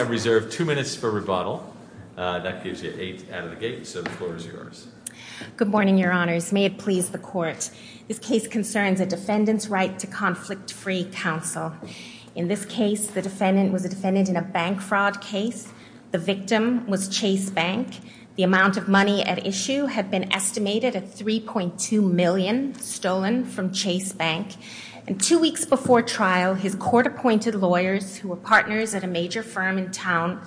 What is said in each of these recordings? I have reserved two minutes for rebuttal. That gives you eight out of the gate, so the floor is yours. Good morning, your honors. May it please the court. This case concerns a defendant's right to conflict-free counsel. In this case, the defendant was a defendant in a bank fraud case. The victim was Chase Bank. The amount of money at issue had been estimated at $3.2 million stolen from Chase Bank. And two weeks before trial, his court-appointed lawyers, who were partners at a major firm in town,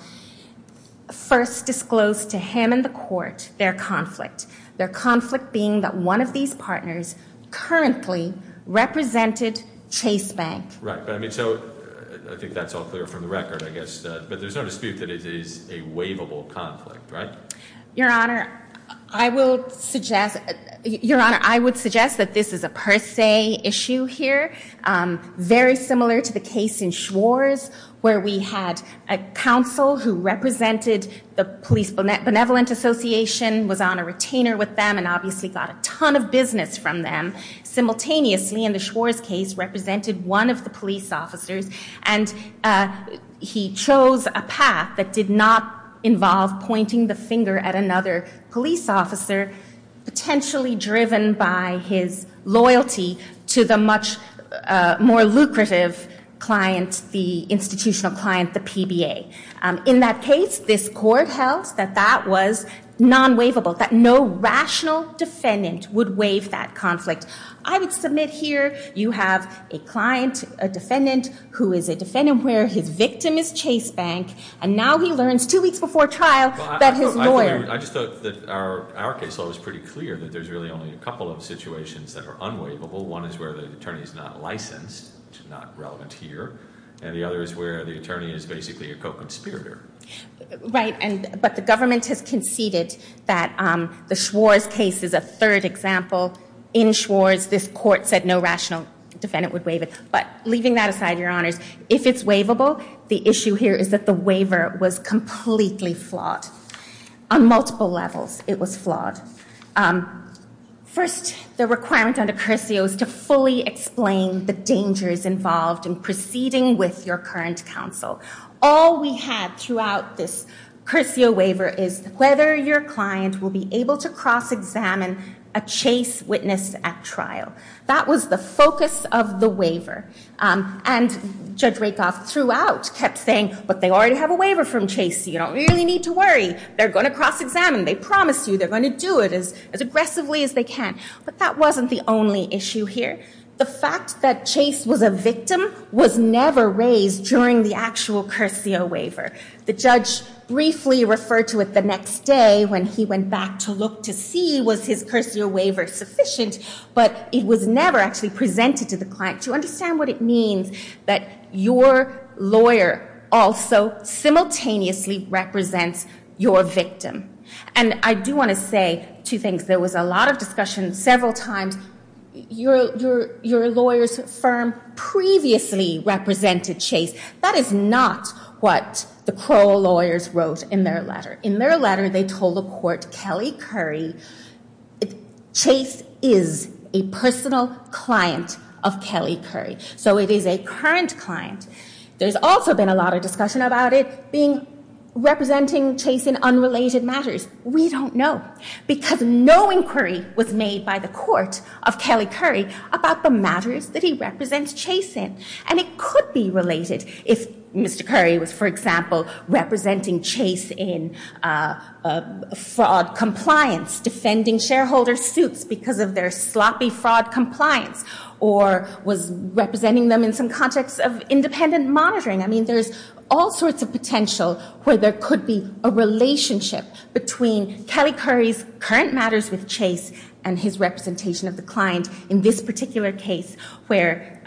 first disclosed to him and the court their conflict. Their conflict being that one of these partners currently represented Chase Bank. Right, but I mean, so I think that's all clear from the record, I guess. But there's no dispute that it is a waivable conflict, right? Your honor, I would suggest that this is a per se issue here. Very similar to the case in Schwarz, where we had a counsel who represented the Police Benevolent Association, was on a retainer with them, and obviously got a ton of business from them. Simultaneously, in the Schwarz case, represented one of the police officers. And he chose a path that did not involve pointing the finger at another police officer, potentially driven by his loyalty to the much more lucrative client, the institutional client, the PBA. In that case, this court held that that was non-waivable, that no rational defendant would waive that conflict. I would submit here, you have a client, a defendant, who is a defendant where his victim is Chase Bank, and now he learns two weeks before trial that his lawyer- I just thought that our case law was pretty clear, that there's really only a couple of situations that are unwaivable. One is where the attorney is not licensed, which is not relevant here. And the other is where the attorney is basically a co-conspirator. Right, but the government has conceded that the Schwarz case is a third example. In Schwarz, this court said no rational defendant would waive it. But leaving that aside, Your Honors, if it's waivable, the issue here is that the waiver was completely flawed. On multiple levels, it was flawed. First, the requirement under Curseo is to fully explain the dangers involved in proceeding with your current counsel. All we had throughout this Curseo waiver is whether your client will be able to cross-examine a Chase witness at trial. That was the focus of the waiver. And Judge Rakoff throughout kept saying, but they already have a waiver from Chase. You don't really need to worry. They're going to cross-examine. They promise you they're going to do it as aggressively as they can. But that wasn't the only issue here. The fact that Chase was a victim was never raised during the actual Curseo waiver. The judge briefly referred to it the next day when he went back to look to see was his Curseo waiver sufficient. But it was never actually presented to the client to understand what it means that your lawyer also simultaneously represents your victim. And I do want to say two things. There was a lot of discussion several times. Your lawyer's firm previously represented Chase. That is not what the Crow lawyers wrote in their letter. In their letter, they told the court, Kelly Curry, Chase is a personal client of Kelly Curry. So it is a current client. There's also been a lot of discussion about it representing Chase in unrelated matters. We don't know because no inquiry was made by the court of Kelly Curry about the matters that he represents Chase in. And it could be related if Mr. Curry was, for example, representing Chase in fraud compliance, defending shareholder suits because of their sloppy fraud compliance, or was representing them in some context of independent monitoring. I mean, there's all sorts of potential where there could be a relationship between Kelly Curry's current matters with Chase and his representation of the client in this particular case where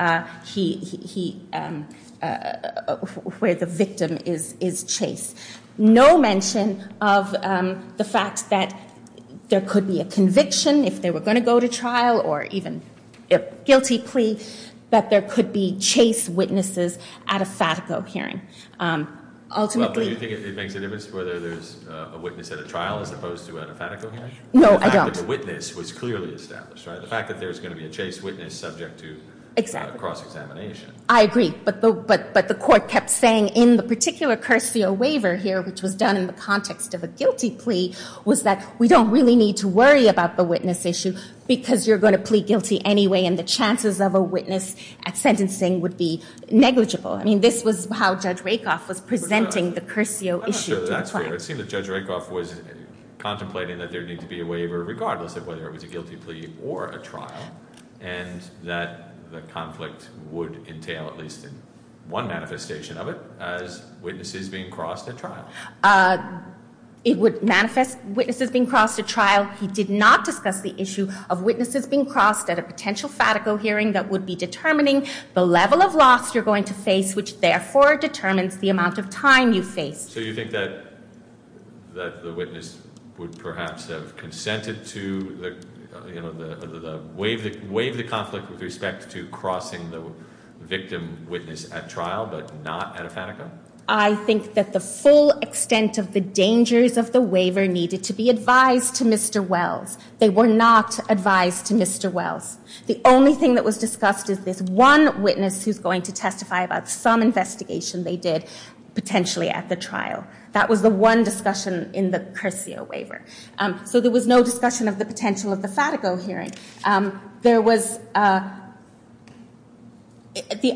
the victim is Chase. No mention of the fact that there could be a conviction if they were going to go to trial or even a guilty plea, that there could be Chase witnesses at a FATICO hearing. Ultimately- Well, do you think it makes a difference whether there's a witness at a trial as opposed to at a FATICO hearing? No, I don't. The fact that the witness was clearly established, right? The fact that there's going to be a Chase witness subject to cross-examination. I agree. But the court kept saying in the particular cursio waiver here, which was done in the context of a guilty plea, was that we don't really need to worry about the witness issue because you're going to plea guilty anyway and the chances of a witness at sentencing would be negligible. I mean, this was how Judge Rakoff was presenting the cursio issue to the client. I'm not sure that's fair. It seemed that Judge Rakoff was contemplating that there'd need to be a waiver regardless of whether it was a guilty plea or a trial and that the conflict would entail at least one manifestation of it as witnesses being crossed at trial. It would manifest witnesses being crossed at trial. He did not discuss the issue of witnesses being crossed at a potential FATICO hearing that would be determining the level of loss you're going to face, which therefore determines the amount of time you face. So you think that the witness would perhaps have consented to the way of the conflict with respect to crossing the victim witness at trial but not at a FATICO? I think that the full extent of the dangers of the waiver needed to be advised to Mr. Wells. They were not advised to Mr. Wells. The only thing that was discussed is this one witness who's going to testify about some investigation they did potentially at the trial. That was the one discussion in the cursio waiver. So there was no discussion of the potential of the FATICO hearing. There was the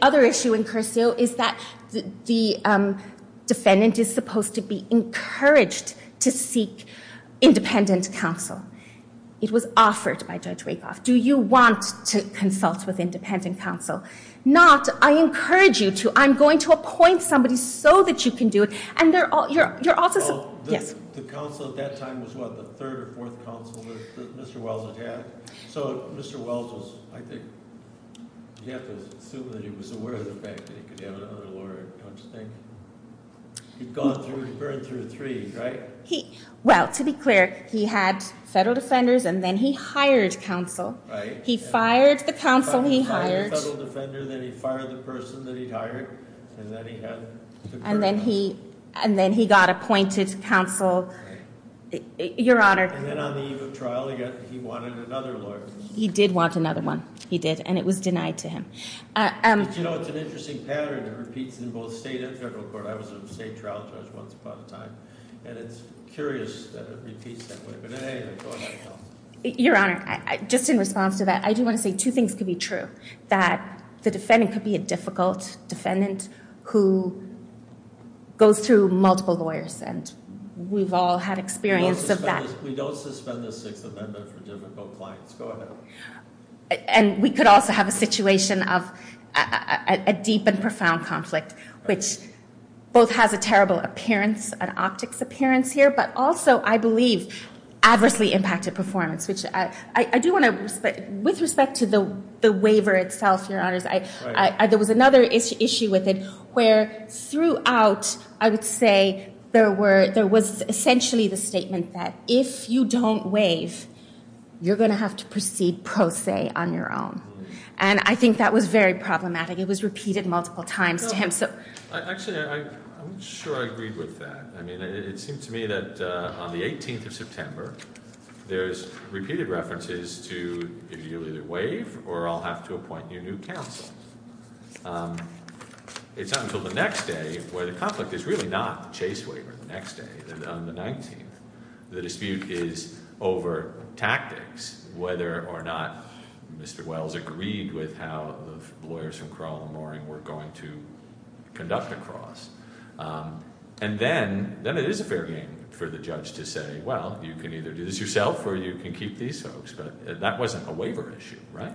other issue in cursio is that the defendant is supposed to be encouraged to seek independent counsel. It was offered by Judge Rakoff. Do you want to consult with independent counsel? Not, I encourage you to. I'm going to appoint somebody so that you can do it. The counsel at that time was what, the third or fourth counsel that Mr. Wells had? So Mr. Wells was, I think, you have to assume that he was aware of the fact that he could have another lawyer, don't you think? He'd gone through, he burned through three, right? Well, to be clear, he had federal defenders and then he hired counsel. He fired the counsel he hired. He fired the federal defender, then he fired the person that he'd hired, and then he had to burn. And then he got appointed counsel. Your Honor. And then on the eve of trial, he wanted another lawyer. He did want another one. He did, and it was denied to him. But you know, it's an interesting pattern that repeats in both state and federal court. I was a state trial judge once upon a time, and it's curious that it repeats that way. But anyway, go ahead. Your Honor, just in response to that, I do want to say two things could be true. That the defendant could be a difficult defendant who goes through multiple lawyers, and we've all had experience of that. We don't suspend the Sixth Amendment for difficult clients. Go ahead. And we could also have a situation of a deep and profound conflict, which both has a terrible appearance, an optics appearance here, but also, I believe, adversely impacted performance, which I do want to respect. With respect to the waiver itself, Your Honors, there was another issue with it where throughout, I would say, there was essentially the statement that if you don't waive, you're going to have to proceed pro se on your own. And I think that was very problematic. It was repeated multiple times to him. Actually, I'm sure I agreed with that. I mean, it seems to me that on the 18th of September, there's repeated references to if you either waive or I'll have to appoint you new counsel. It's not until the next day, where the conflict is really not the chase waiver, the next day, on the 19th, the dispute is over tactics, whether or not Mr. Wells agreed with how the lawyers from Crowell & Loring were going to conduct the cross. And then it is a fair game for the judge to say, well, you can either do this yourself or you can keep these folks. But that wasn't a waiver issue, right?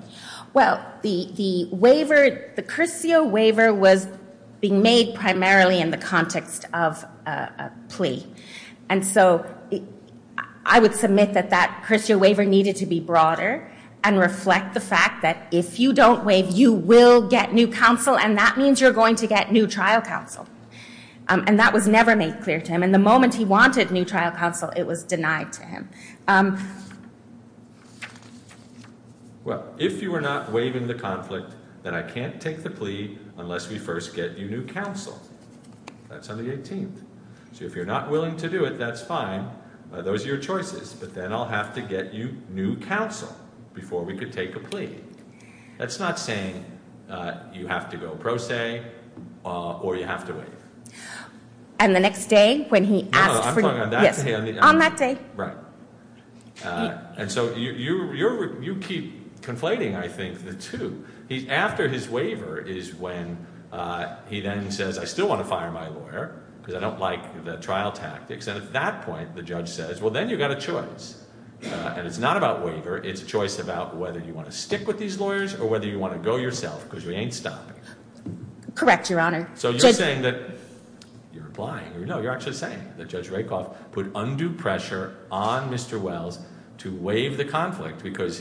Well, the waiver, the cursio waiver was being made primarily in the context of a plea. And so I would submit that that cursio waiver needed to be broader and reflect the fact that if you don't waive, you will get new counsel, and that means you're going to get new trial counsel. And that was never made clear to him. And the moment he wanted new trial counsel, it was denied to him. Well, if you are not waiving the conflict, then I can't take the plea unless we first get you new counsel. That's on the 18th. So if you're not willing to do it, that's fine. Those are your choices. But then I'll have to get you new counsel before we could take a plea. That's not saying you have to go pro se or you have to waive. And the next day when he asked for you. No, I'm talking on that day. On that day. Right. And so you keep conflating, I think, the two. After his waiver is when he then says, I still want to fire my lawyer because I don't like the trial tactics. And at that point, the judge says, well, then you've got a choice. And it's not about waiver. It's a choice about whether you want to stick with these lawyers or whether you want to go yourself because you ain't stopping. Correct, Your Honor. So you're saying that you're applying. No, you're actually saying that Judge Rakoff put undue pressure on Mr. Wells to waive the conflict because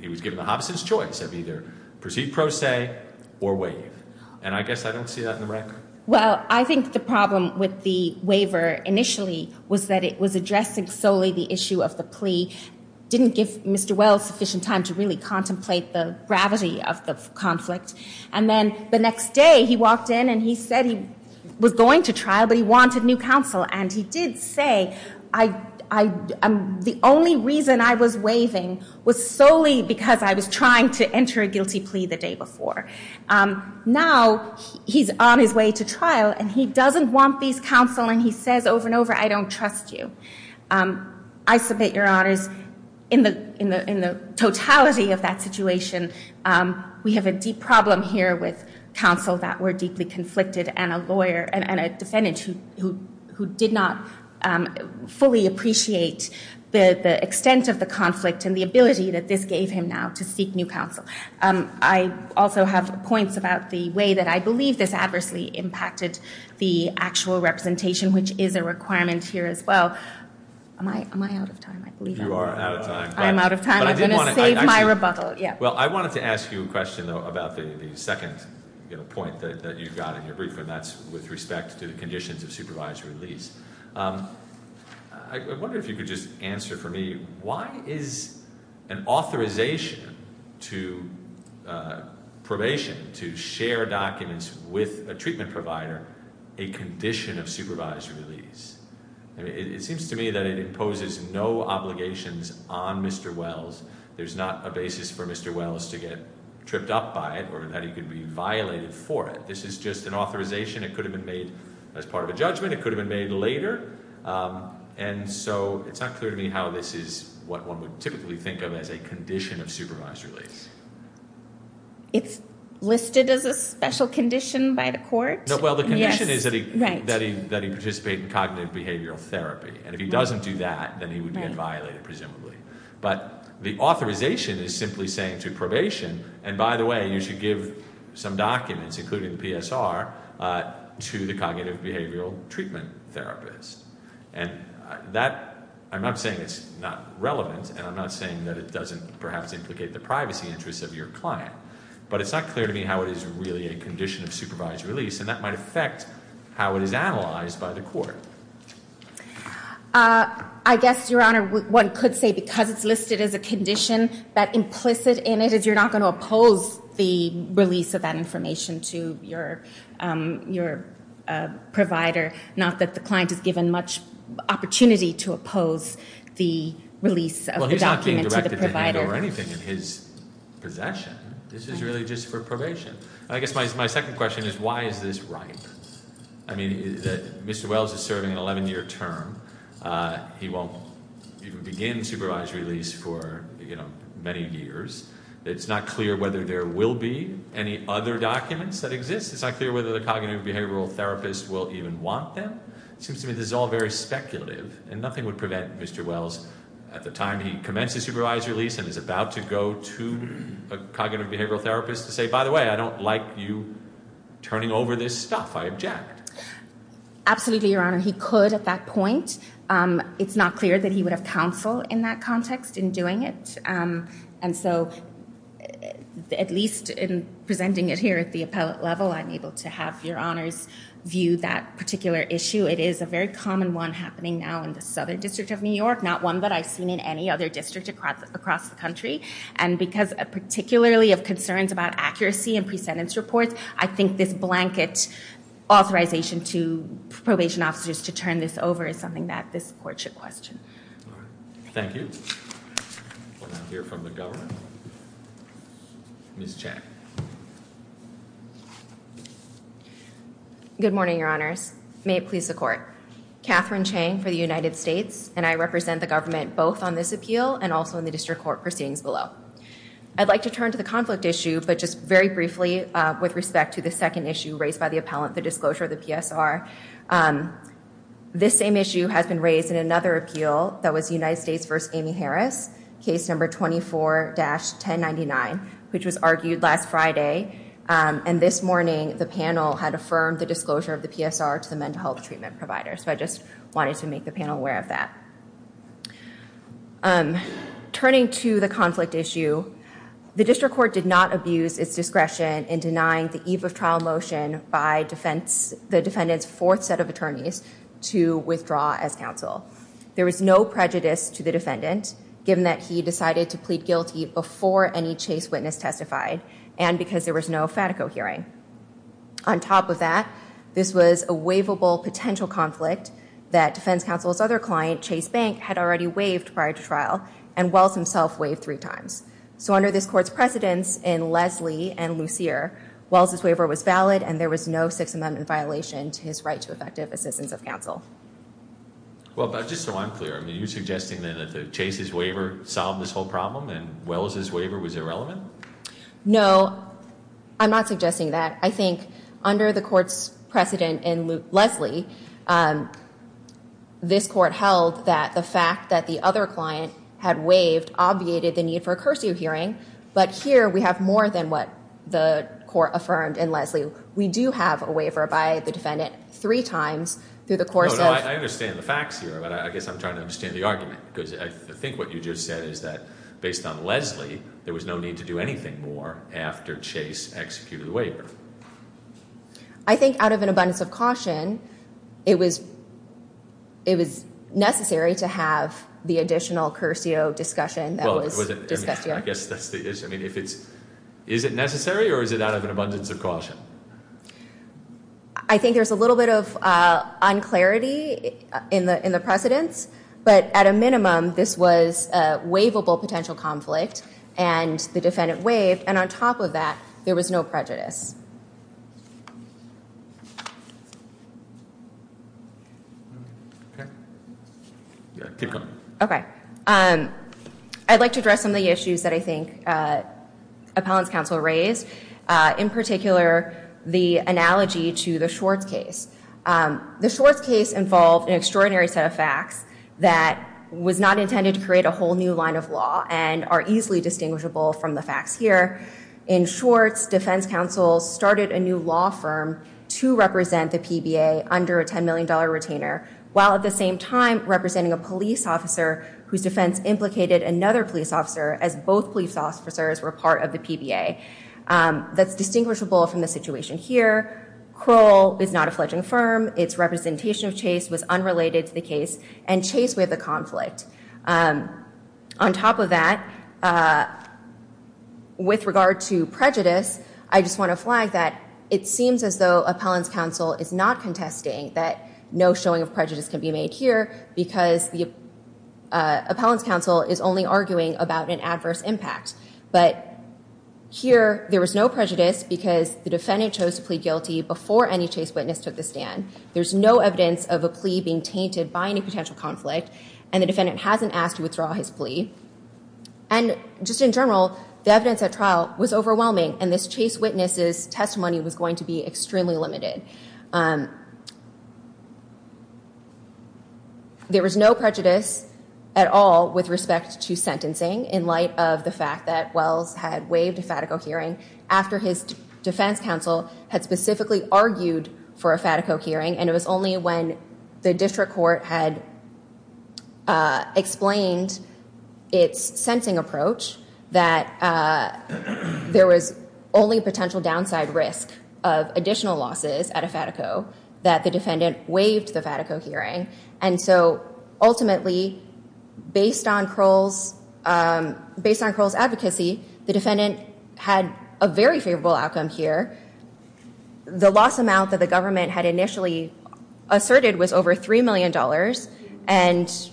he was given the hobson's choice of either proceed pro se or waive. And I guess I don't see that in the record. Well, I think the problem with the waiver initially was that it was addressing solely the issue of the plea. Didn't give Mr. Wells sufficient time to really contemplate the gravity of the conflict. And then the next day he walked in and he said he was going to trial, but he wanted new counsel. And he did say, the only reason I was waiving was solely because I was trying to enter a guilty plea the day before. Now he's on his way to trial and he doesn't want these counsel and he says over and over, I don't trust you. I submit, Your Honors, in the totality of that situation, we have a deep problem here with counsel that were deeply conflicted and a lawyer and a defendant who did not fully appreciate the extent of the conflict and the ability that this gave him now to seek new counsel. I also have points about the way that I believe this adversely impacted the actual representation, which is a requirement here as well. Am I out of time? I believe I am. You are out of time. I am out of time. I'm going to save my rebuttal. Well, I wanted to ask you a question, though, about the second point that you got in your brief, and that's with respect to the conditions of supervised release. I wonder if you could just answer for me, why is an authorization to probation, to share documents with a treatment provider, a condition of supervised release? It seems to me that it imposes no obligations on Mr. Wells. There's not a basis for Mr. Wells to get tripped up by it or that he could be violated for it. This is just an authorization. It could have been made as part of a judgment. It could have been made later. And so it's not clear to me how this is what one would typically think of as a condition of supervised release. It's listed as a special condition by the court? Well, the condition is that he participate in cognitive behavioral therapy. And if he doesn't do that, then he would get violated, presumably. But the authorization is simply saying to probation, and by the way, you should give some documents, including the PSR, to the cognitive behavioral treatment therapist. And I'm not saying it's not relevant, and I'm not saying that it doesn't perhaps implicate the privacy interests of your client, but it's not clear to me how it is really a condition of supervised release, and that might affect how it is analyzed by the court. I guess, Your Honor, one could say because it's listed as a condition, that implicit in it is you're not going to oppose the release of that information to your provider, not that the client is given much opportunity to oppose the release of the document to the provider. Well, he's not being directed to hand over anything in his possession. This is really just for probation. I guess my second question is why is this ripe? I mean, Mr. Wells is serving an 11-year term. He won't even begin supervised release for many years. It's not clear whether there will be any other documents that exist. It's not clear whether the cognitive behavioral therapist will even want them. It seems to me this is all very speculative, and nothing would prevent Mr. Wells, at the time he commenced his supervised release and is about to go to a cognitive behavioral therapist, to say, by the way, I don't like you turning over this stuff. I object. Absolutely, Your Honor. He could at that point. It's not clear that he would have counsel in that context in doing it, and so at least in presenting it here at the appellate level, I'm able to have Your Honors view that particular issue. It is a very common one happening now in the Southern District of New York, not one that I've seen in any other district across the country, and because particularly of concerns about accuracy in presentence reports, I think this blanket authorization to probation officers to turn this over is something that this court should question. Thank you. We'll now hear from the Governor. Ms. Chang. Good morning, Your Honors. May it please the Court. Catherine Chang for the United States, and I represent the government both on this appeal and also in the district court proceedings below. I'd like to turn to the conflict issue, but just very briefly, with respect to the second issue raised by the appellant, the disclosure of the PSR. This same issue has been raised in another appeal that was United States v. Amy Harris, case number 24-1099, which was argued last Friday, and this morning the panel had affirmed the disclosure of the PSR to the mental health treatment provider, so I just wanted to make the panel aware of that. Turning to the conflict issue, the district court did not abuse its discretion in denying the eve of trial motion by the defendant's fourth set of attorneys to withdraw as counsel. There was no prejudice to the defendant, given that he decided to plead guilty before any chase witness testified, and because there was no FATICO hearing. On top of that, this was a waivable potential conflict that defense counsel's other client, Chase Bank, had already waived prior to trial, and Wells himself waived three times. So under this court's precedence in Leslie and Lucier, Wells' waiver was valid and there was no Sixth Amendment violation to his right to effective assistance of counsel. Well, just so I'm clear, are you suggesting that Chase's waiver solved this whole problem and Wells' waiver was irrelevant? No, I'm not suggesting that. I think under the court's precedent in Leslie, this court held that the fact that the other client had waived obviated the need for a cursio hearing, but here we have more than what the court affirmed in Leslie. We do have a waiver by the defendant three times through the course of— No, no, I understand the facts here, but I guess I'm trying to understand the argument, because I think what you just said is that based on Leslie, there was no need to do anything more after Chase executed the waiver. I think out of an abundance of caution, it was necessary to have the additional cursio discussion that was discussed here. I guess that's the issue. I mean, is it necessary or is it out of an abundance of caution? I think there's a little bit of unclarity in the precedence, but at a minimum, this was a waivable potential conflict, and the defendant waived, and on top of that, there was no prejudice. Keep going. Okay. I'd like to address some of the issues that I think appellant's counsel raised, in particular the analogy to the Schwartz case. The Schwartz case involved an extraordinary set of facts that was not intended to create a whole new line of law and are easily distinguishable from the facts here. In Schwartz, defense counsel started a new law firm to represent the PBA under a $10 million retainer, while at the same time representing a police officer whose defense implicated another police officer, as both police officers were part of the PBA. That's distinguishable from the situation here. Krull is not a fledgling firm. Its representation of Chase was unrelated to the case, and Chase we have the conflict. On top of that, with regard to prejudice, I just want to flag that it seems as though appellant's counsel is not contesting that no showing of prejudice can be made here because the appellant's counsel is only arguing about an adverse impact. But here, there was no prejudice because the defendant chose to plead guilty before any Chase witness took the stand. There's no evidence of a plea being tainted by any potential conflict, and the defendant hasn't asked to withdraw his plea. And just in general, the evidence at trial was overwhelming, and this Chase witness's testimony was going to be extremely limited. There was no prejudice at all with respect to sentencing in light of the fact that Wells had waived a Fatico hearing after his defense counsel had specifically argued for a Fatico hearing, and it was only when the district court had explained its sentencing approach that there was only a potential downside risk of additional losses at a Fatico that the defendant waived the Fatico hearing. And so ultimately, based on Krull's advocacy, the defendant had a very favorable outcome here. The loss amount that the government had initially asserted was over $3 million, and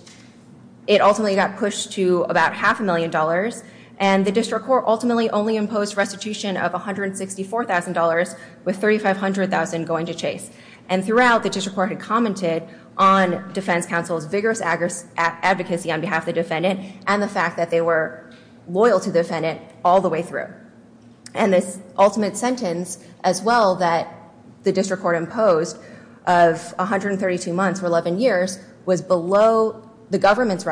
it ultimately got pushed to about half a million dollars, and the district court ultimately only imposed restitution of $164,000 with $3,500,000 going to Chase. And throughout, the district court had commented on defense counsel's vigorous advocacy on behalf of the defendant and the fact that they were loyal to the defendant all the way through. And this ultimate sentence as well that the district court imposed of 132 months for 11 years was below the government's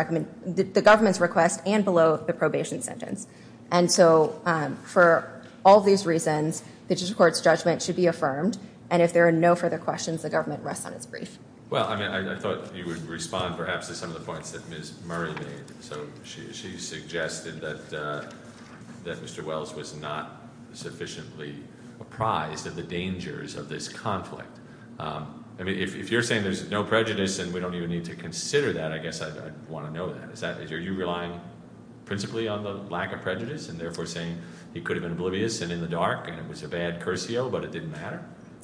request and below the probation sentence. And so for all these reasons, the district court's judgment should be affirmed, and if there are no further questions, the government rests on its brief. Well, I thought you would respond perhaps to some of the points that Ms. Murray made. So she suggested that Mr. Wells was not sufficiently apprised of the dangers of this conflict. If you're saying there's no prejudice and we don't even need to consider that, I guess I'd want to know that. Are you relying principally on the lack of prejudice and therefore saying he could have been oblivious and in the dark and it was a bad cursio, but it didn't matter?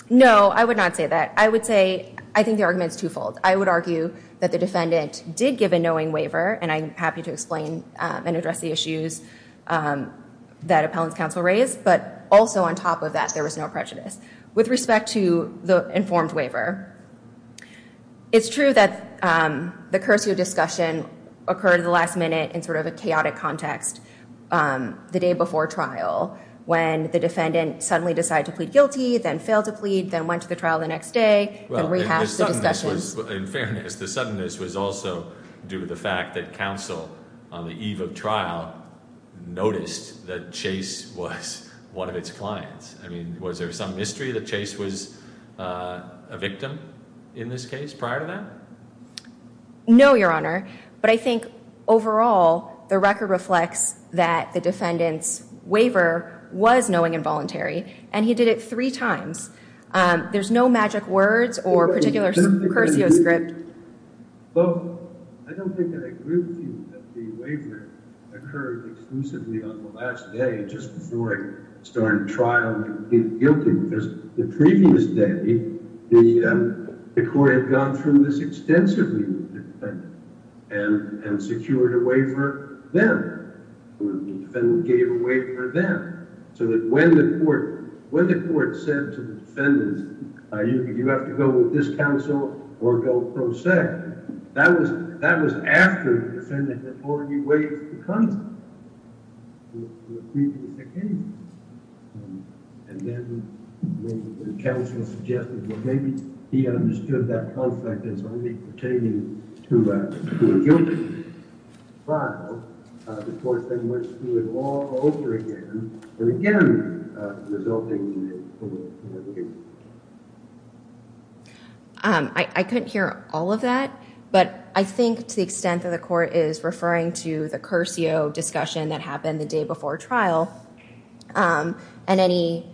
No, I would not say that. I think the argument's twofold. I would argue that the defendant did give a knowing waiver, and I'm happy to explain and address the issues that appellant's counsel raised, but also on top of that, there was no prejudice. With respect to the informed waiver, it's true that the cursio discussion occurred at the last minute in sort of a chaotic context the day before trial when the defendant suddenly decided to plead guilty, then failed to plead, then went to the trial the next day, then rehashed the discussions. In fairness, the suddenness was also due to the fact that counsel, on the eve of trial, noticed that Chase was one of its clients. I mean, was there some mystery that Chase was a victim in this case prior to that? No, Your Honor, but I think overall the record reflects that the defendant's waiver was knowing and voluntary, and he did it three times. There's no magic words or particular cursio script. Well, I don't think I agree with you that the waiver occurred exclusively on the last day just before I started trial and plead guilty, because the previous day, the court had gone through this extensively with the defendant and secured a waiver then, or the defendant gave a waiver then, so that when the court said to the defendant, you have to go with this counsel or go pro sec, that was after the defendant had already waived the conflict with the previous occasion. And then the counsel suggested, well, maybe he understood that conflict as only pertaining to a guilty trial. The court then went through it all over again, and again, resulting in a waiver. I couldn't hear all of that, but I think to the extent that the court is referring to the cursio discussion that happened the day before trial and any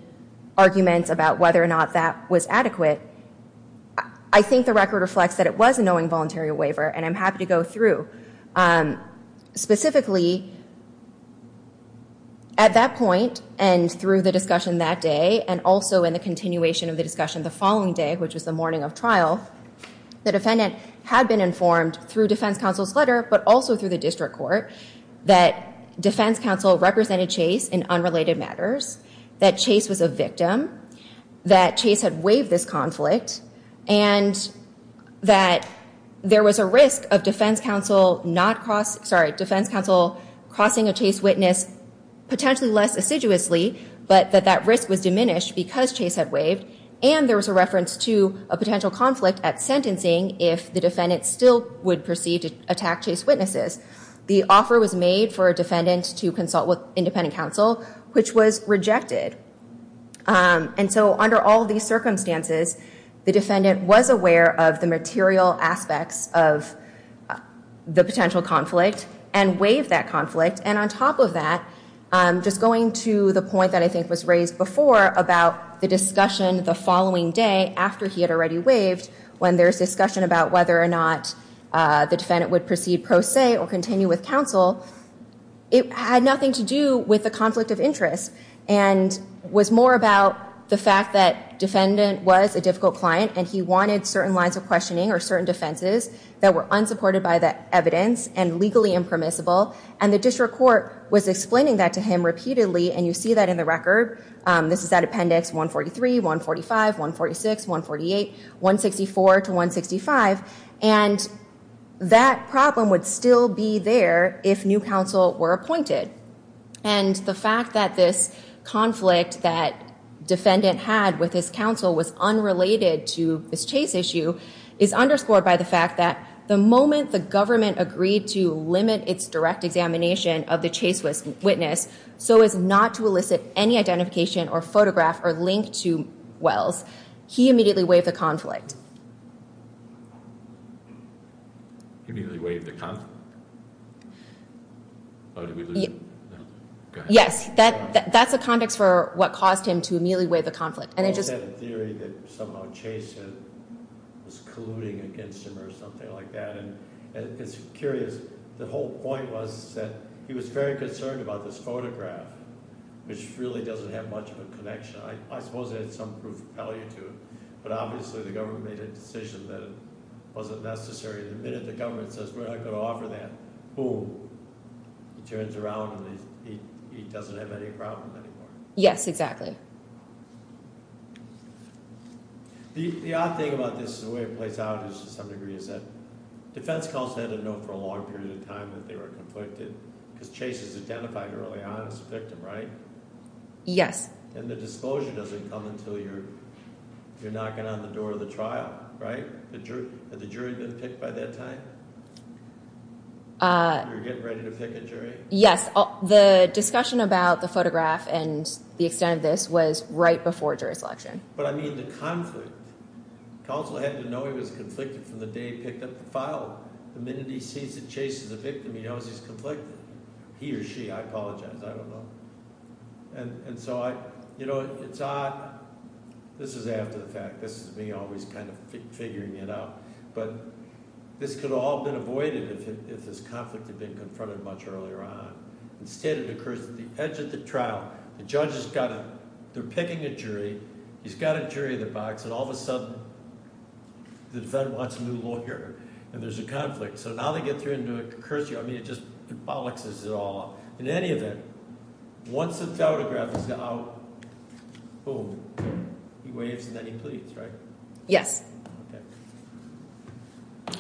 arguments about whether or not that was adequate, I think the record reflects that it was a knowing voluntary waiver, and I'm happy to go through. Specifically, at that point and through the discussion that day and also in the continuation of the discussion the following day, which was the morning of trial, the defendant had been informed through defense counsel's letter, but also through the district court, that defense counsel represented Chase in unrelated matters, that Chase was a victim, that Chase had waived this conflict, and that there was a risk of defense counsel crossing a Chase witness potentially less assiduously, but that that risk was diminished because Chase had waived, and there was a reference to a potential conflict at sentencing if the defendant still would proceed to attack Chase witnesses. The offer was made for a defendant to consult with independent counsel, which was rejected, and so under all these circumstances, the defendant was aware of the material aspects of the potential conflict and waived that conflict, and on top of that, just going to the point that I think was raised before about the discussion the following day after he had already waived, when there's discussion about whether or not the defendant would proceed pro se or continue with counsel, it had nothing to do with the conflict of interest, and was more about the fact that defendant was a difficult client and he wanted certain lines of questioning or certain defenses that were unsupported by the evidence and legally impermissible, and the district court was explaining that to him repeatedly, and you see that in the record. This is at Appendix 143, 145, 146, 148, 164 to 165, and that problem would still be there if new counsel were appointed, and the fact that this conflict that defendant had with his counsel was unrelated to this Chase issue is underscored by the fact that the moment the government agreed to limit its direct examination of the Chase witness so as not to elicit any identification or photograph or link to Wells, he immediately waived the conflict. He immediately waived the conflict? Yes, that's the context for what caused him to immediately waive the conflict. I had a theory that somehow Chase was colluding against him or something like that, and it's curious. The whole point was that he was very concerned about this photograph, which really doesn't have much of a connection. I suppose it had some proof of value to it, but obviously the government made a decision that it wasn't necessary. The minute the government says we're not going to offer that, boom, he turns around and he doesn't have any problem anymore. Yes, exactly. The odd thing about this, the way it plays out to some degree, is that defense counsel had to know for a long period of time that they were conflicted because Chase was identified early on as the victim, right? Yes. And the disclosure doesn't come until you're knocking on the door of the trial, right? Had the jury been picked by that time? You were getting ready to pick a jury? Yes. The discussion about the photograph and the extent of this was right before jurisdiction. But I mean the conflict. Counsel had to know he was conflicted from the day he picked up the file. The minute he sees that Chase is a victim, he knows he's conflicted. He or she, I apologize, I don't know. And so, you know, it's odd. This is after the fact. This is me always kind of figuring it out. But this could have all been avoided if this conflict had been confronted much earlier on. Instead, it occurs at the edge of the trial. The judge has got a – they're picking a jury. He's got a jury in the box, and all of a sudden the defendant wants a new lawyer and there's a conflict. So now they get through and do a concursion. I mean it just bollocks us all. In any event, once the photograph is out, boom. He waves and then he leaves, right? Yes.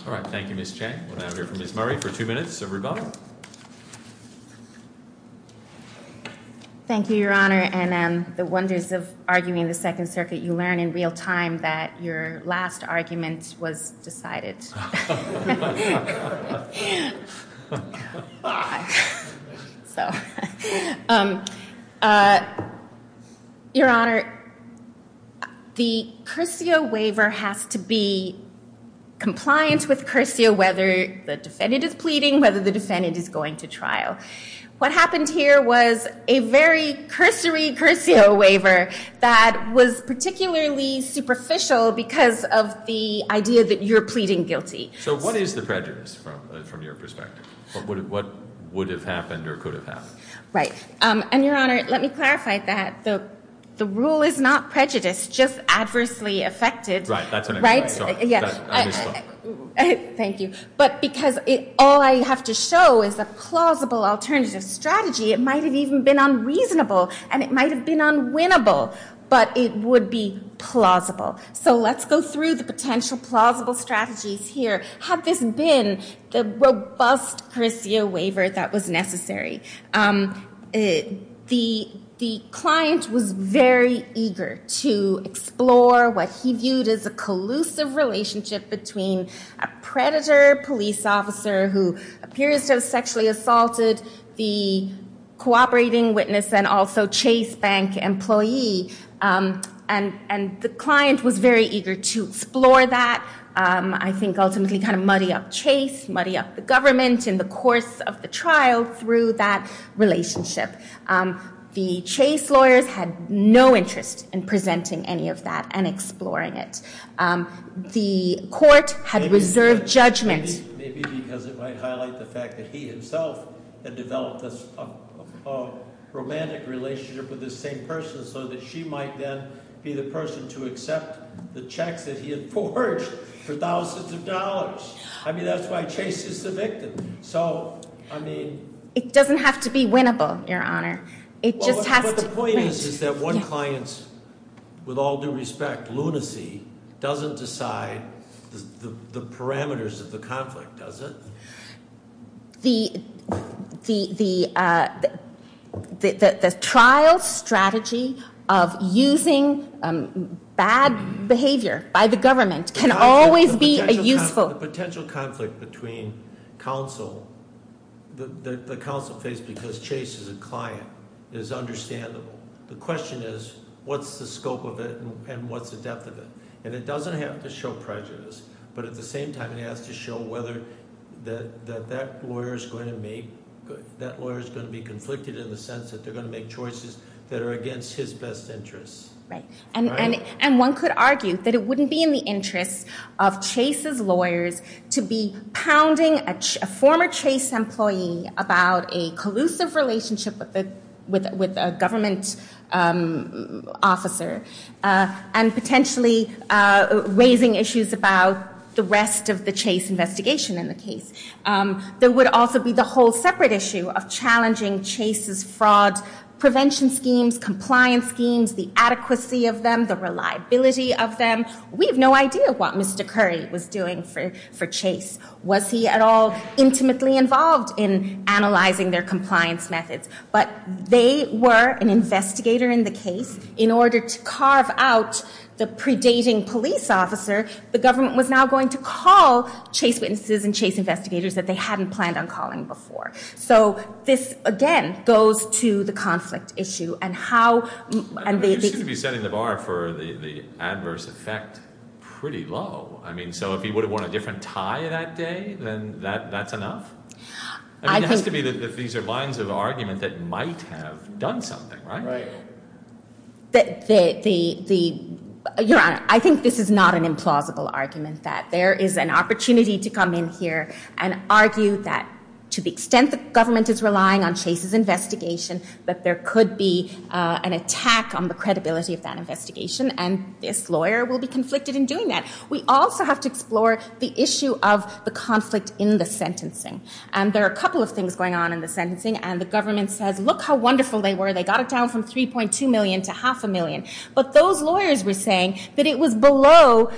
All right, thank you, Ms. Chang. We'll now hear from Ms. Murray for two minutes of rebuttal. Thank you, Your Honor. And the wonders of arguing the Second Circuit, you learn in real time that your last argument was decided. Your Honor, the cursio waiver has to be compliant with cursio whether the defendant is pleading, whether the defendant is going to trial. What happened here was a very cursory cursio waiver that was particularly superficial because of the idea that you're pleading guilty. So what is the prejudice from your perspective? What would have happened or could have happened? Right. And, Your Honor, let me clarify that the rule is not prejudice, just adversely affected, right? Right, that's what I'm trying to say. Sorry, I misspoke. Thank you. But because all I have to show is a plausible alternative strategy, it might have even been unreasonable and it might have been unwinnable, but it would be plausible. So let's go through the potential plausible strategies here. Had this been the robust cursio waiver that was necessary, the client was very eager to explore what he viewed as a collusive relationship between a predator police officer who appears to have sexually assaulted the cooperating witness and also Chase Bank employee. And the client was very eager to explore that, I think ultimately kind of muddy up Chase, muddy up the government in the course of the trial through that relationship. The Chase lawyers had no interest in presenting any of that and exploring it. The court had reserved judgment. Maybe because it might highlight the fact that he himself had developed a romantic relationship with this same person so that she might then be the person to accept the checks that he had forged for thousands of dollars. I mean, that's why Chase is the victim. So, I mean. It doesn't have to be winnable, Your Honor. It just has to be. The point is that one client's, with all due respect, lunacy doesn't decide the parameters of the conflict, does it? The trial strategy of using bad behavior by the government can always be useful. The potential conflict between counsel, the counsel face because Chase is a client, is understandable. The question is, what's the scope of it and what's the depth of it? And it doesn't have to show prejudice. But at the same time, it has to show whether that lawyer is going to make, that lawyer is going to be conflicted in the sense that they're going to make choices that are against his best interests. And one could argue that it wouldn't be in the interest of Chase's lawyers to be pounding a former Chase employee about a collusive relationship with a government officer and potentially raising issues about the rest of the Chase investigation in the case. There would also be the whole separate issue of challenging Chase's fraud prevention schemes, compliance schemes, the adequacy of them, the reliability of them. We have no idea what Mr. Curry was doing for Chase. Was he at all intimately involved in analyzing their compliance methods? But they were an investigator in the case. In order to carve out the predating police officer, the government was now going to call Chase witnesses and Chase investigators that they hadn't planned on calling before. So this, again, goes to the conflict issue. You seem to be setting the bar for the adverse effect pretty low. So if he would have worn a different tie that day, then that's enough? It has to be that these are lines of argument that might have done something, right? Your Honor, I think this is not an implausible argument, that there is an opportunity to come in here and argue that, to the extent that government is relying on Chase's investigation, that there could be an attack on the credibility of that investigation, and this lawyer will be conflicted in doing that. We also have to explore the issue of the conflict in the sentencing. And there are a couple of things going on in the sentencing, and the government says, look how wonderful they were. They got it down from $3.2 million to half a million. But those lawyers were saying that it was below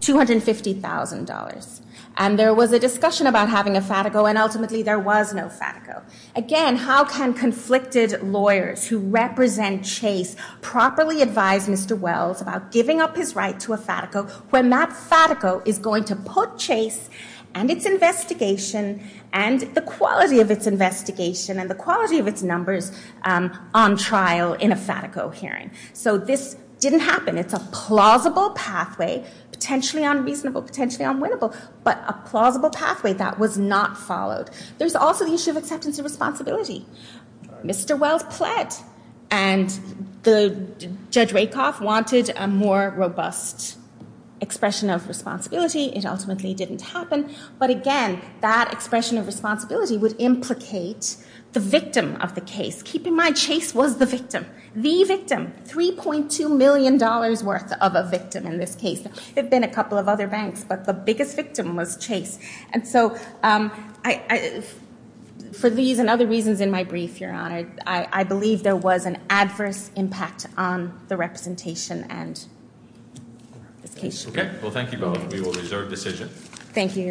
$250,000. And there was a discussion about having a FATICO, and ultimately there was no FATICO. Again, how can conflicted lawyers who represent Chase properly advise Mr. Wells about giving up his right to a FATICO when that FATICO is going to put Chase and its investigation and the quality of its investigation and the quality of its numbers on trial in a FATICO hearing? So this didn't happen. It's a plausible pathway, potentially unreasonable, potentially unwinnable, but a plausible pathway that was not followed. There's also the issue of acceptance of responsibility. Mr. Wells pled, and Judge Rakoff wanted a more robust expression of responsibility. It ultimately didn't happen. But again, that expression of responsibility would implicate the victim of the case. Keep in mind, Chase was the victim, the victim, $3.2 million worth of a victim in this case. There have been a couple of other banks, but the biggest victim was Chase. And so for these and other reasons in my brief, Your Honor, I believe there was an adverse impact on the representation and this case. Okay. Well, thank you both. We will reserve decision. Thank you, Your Honor.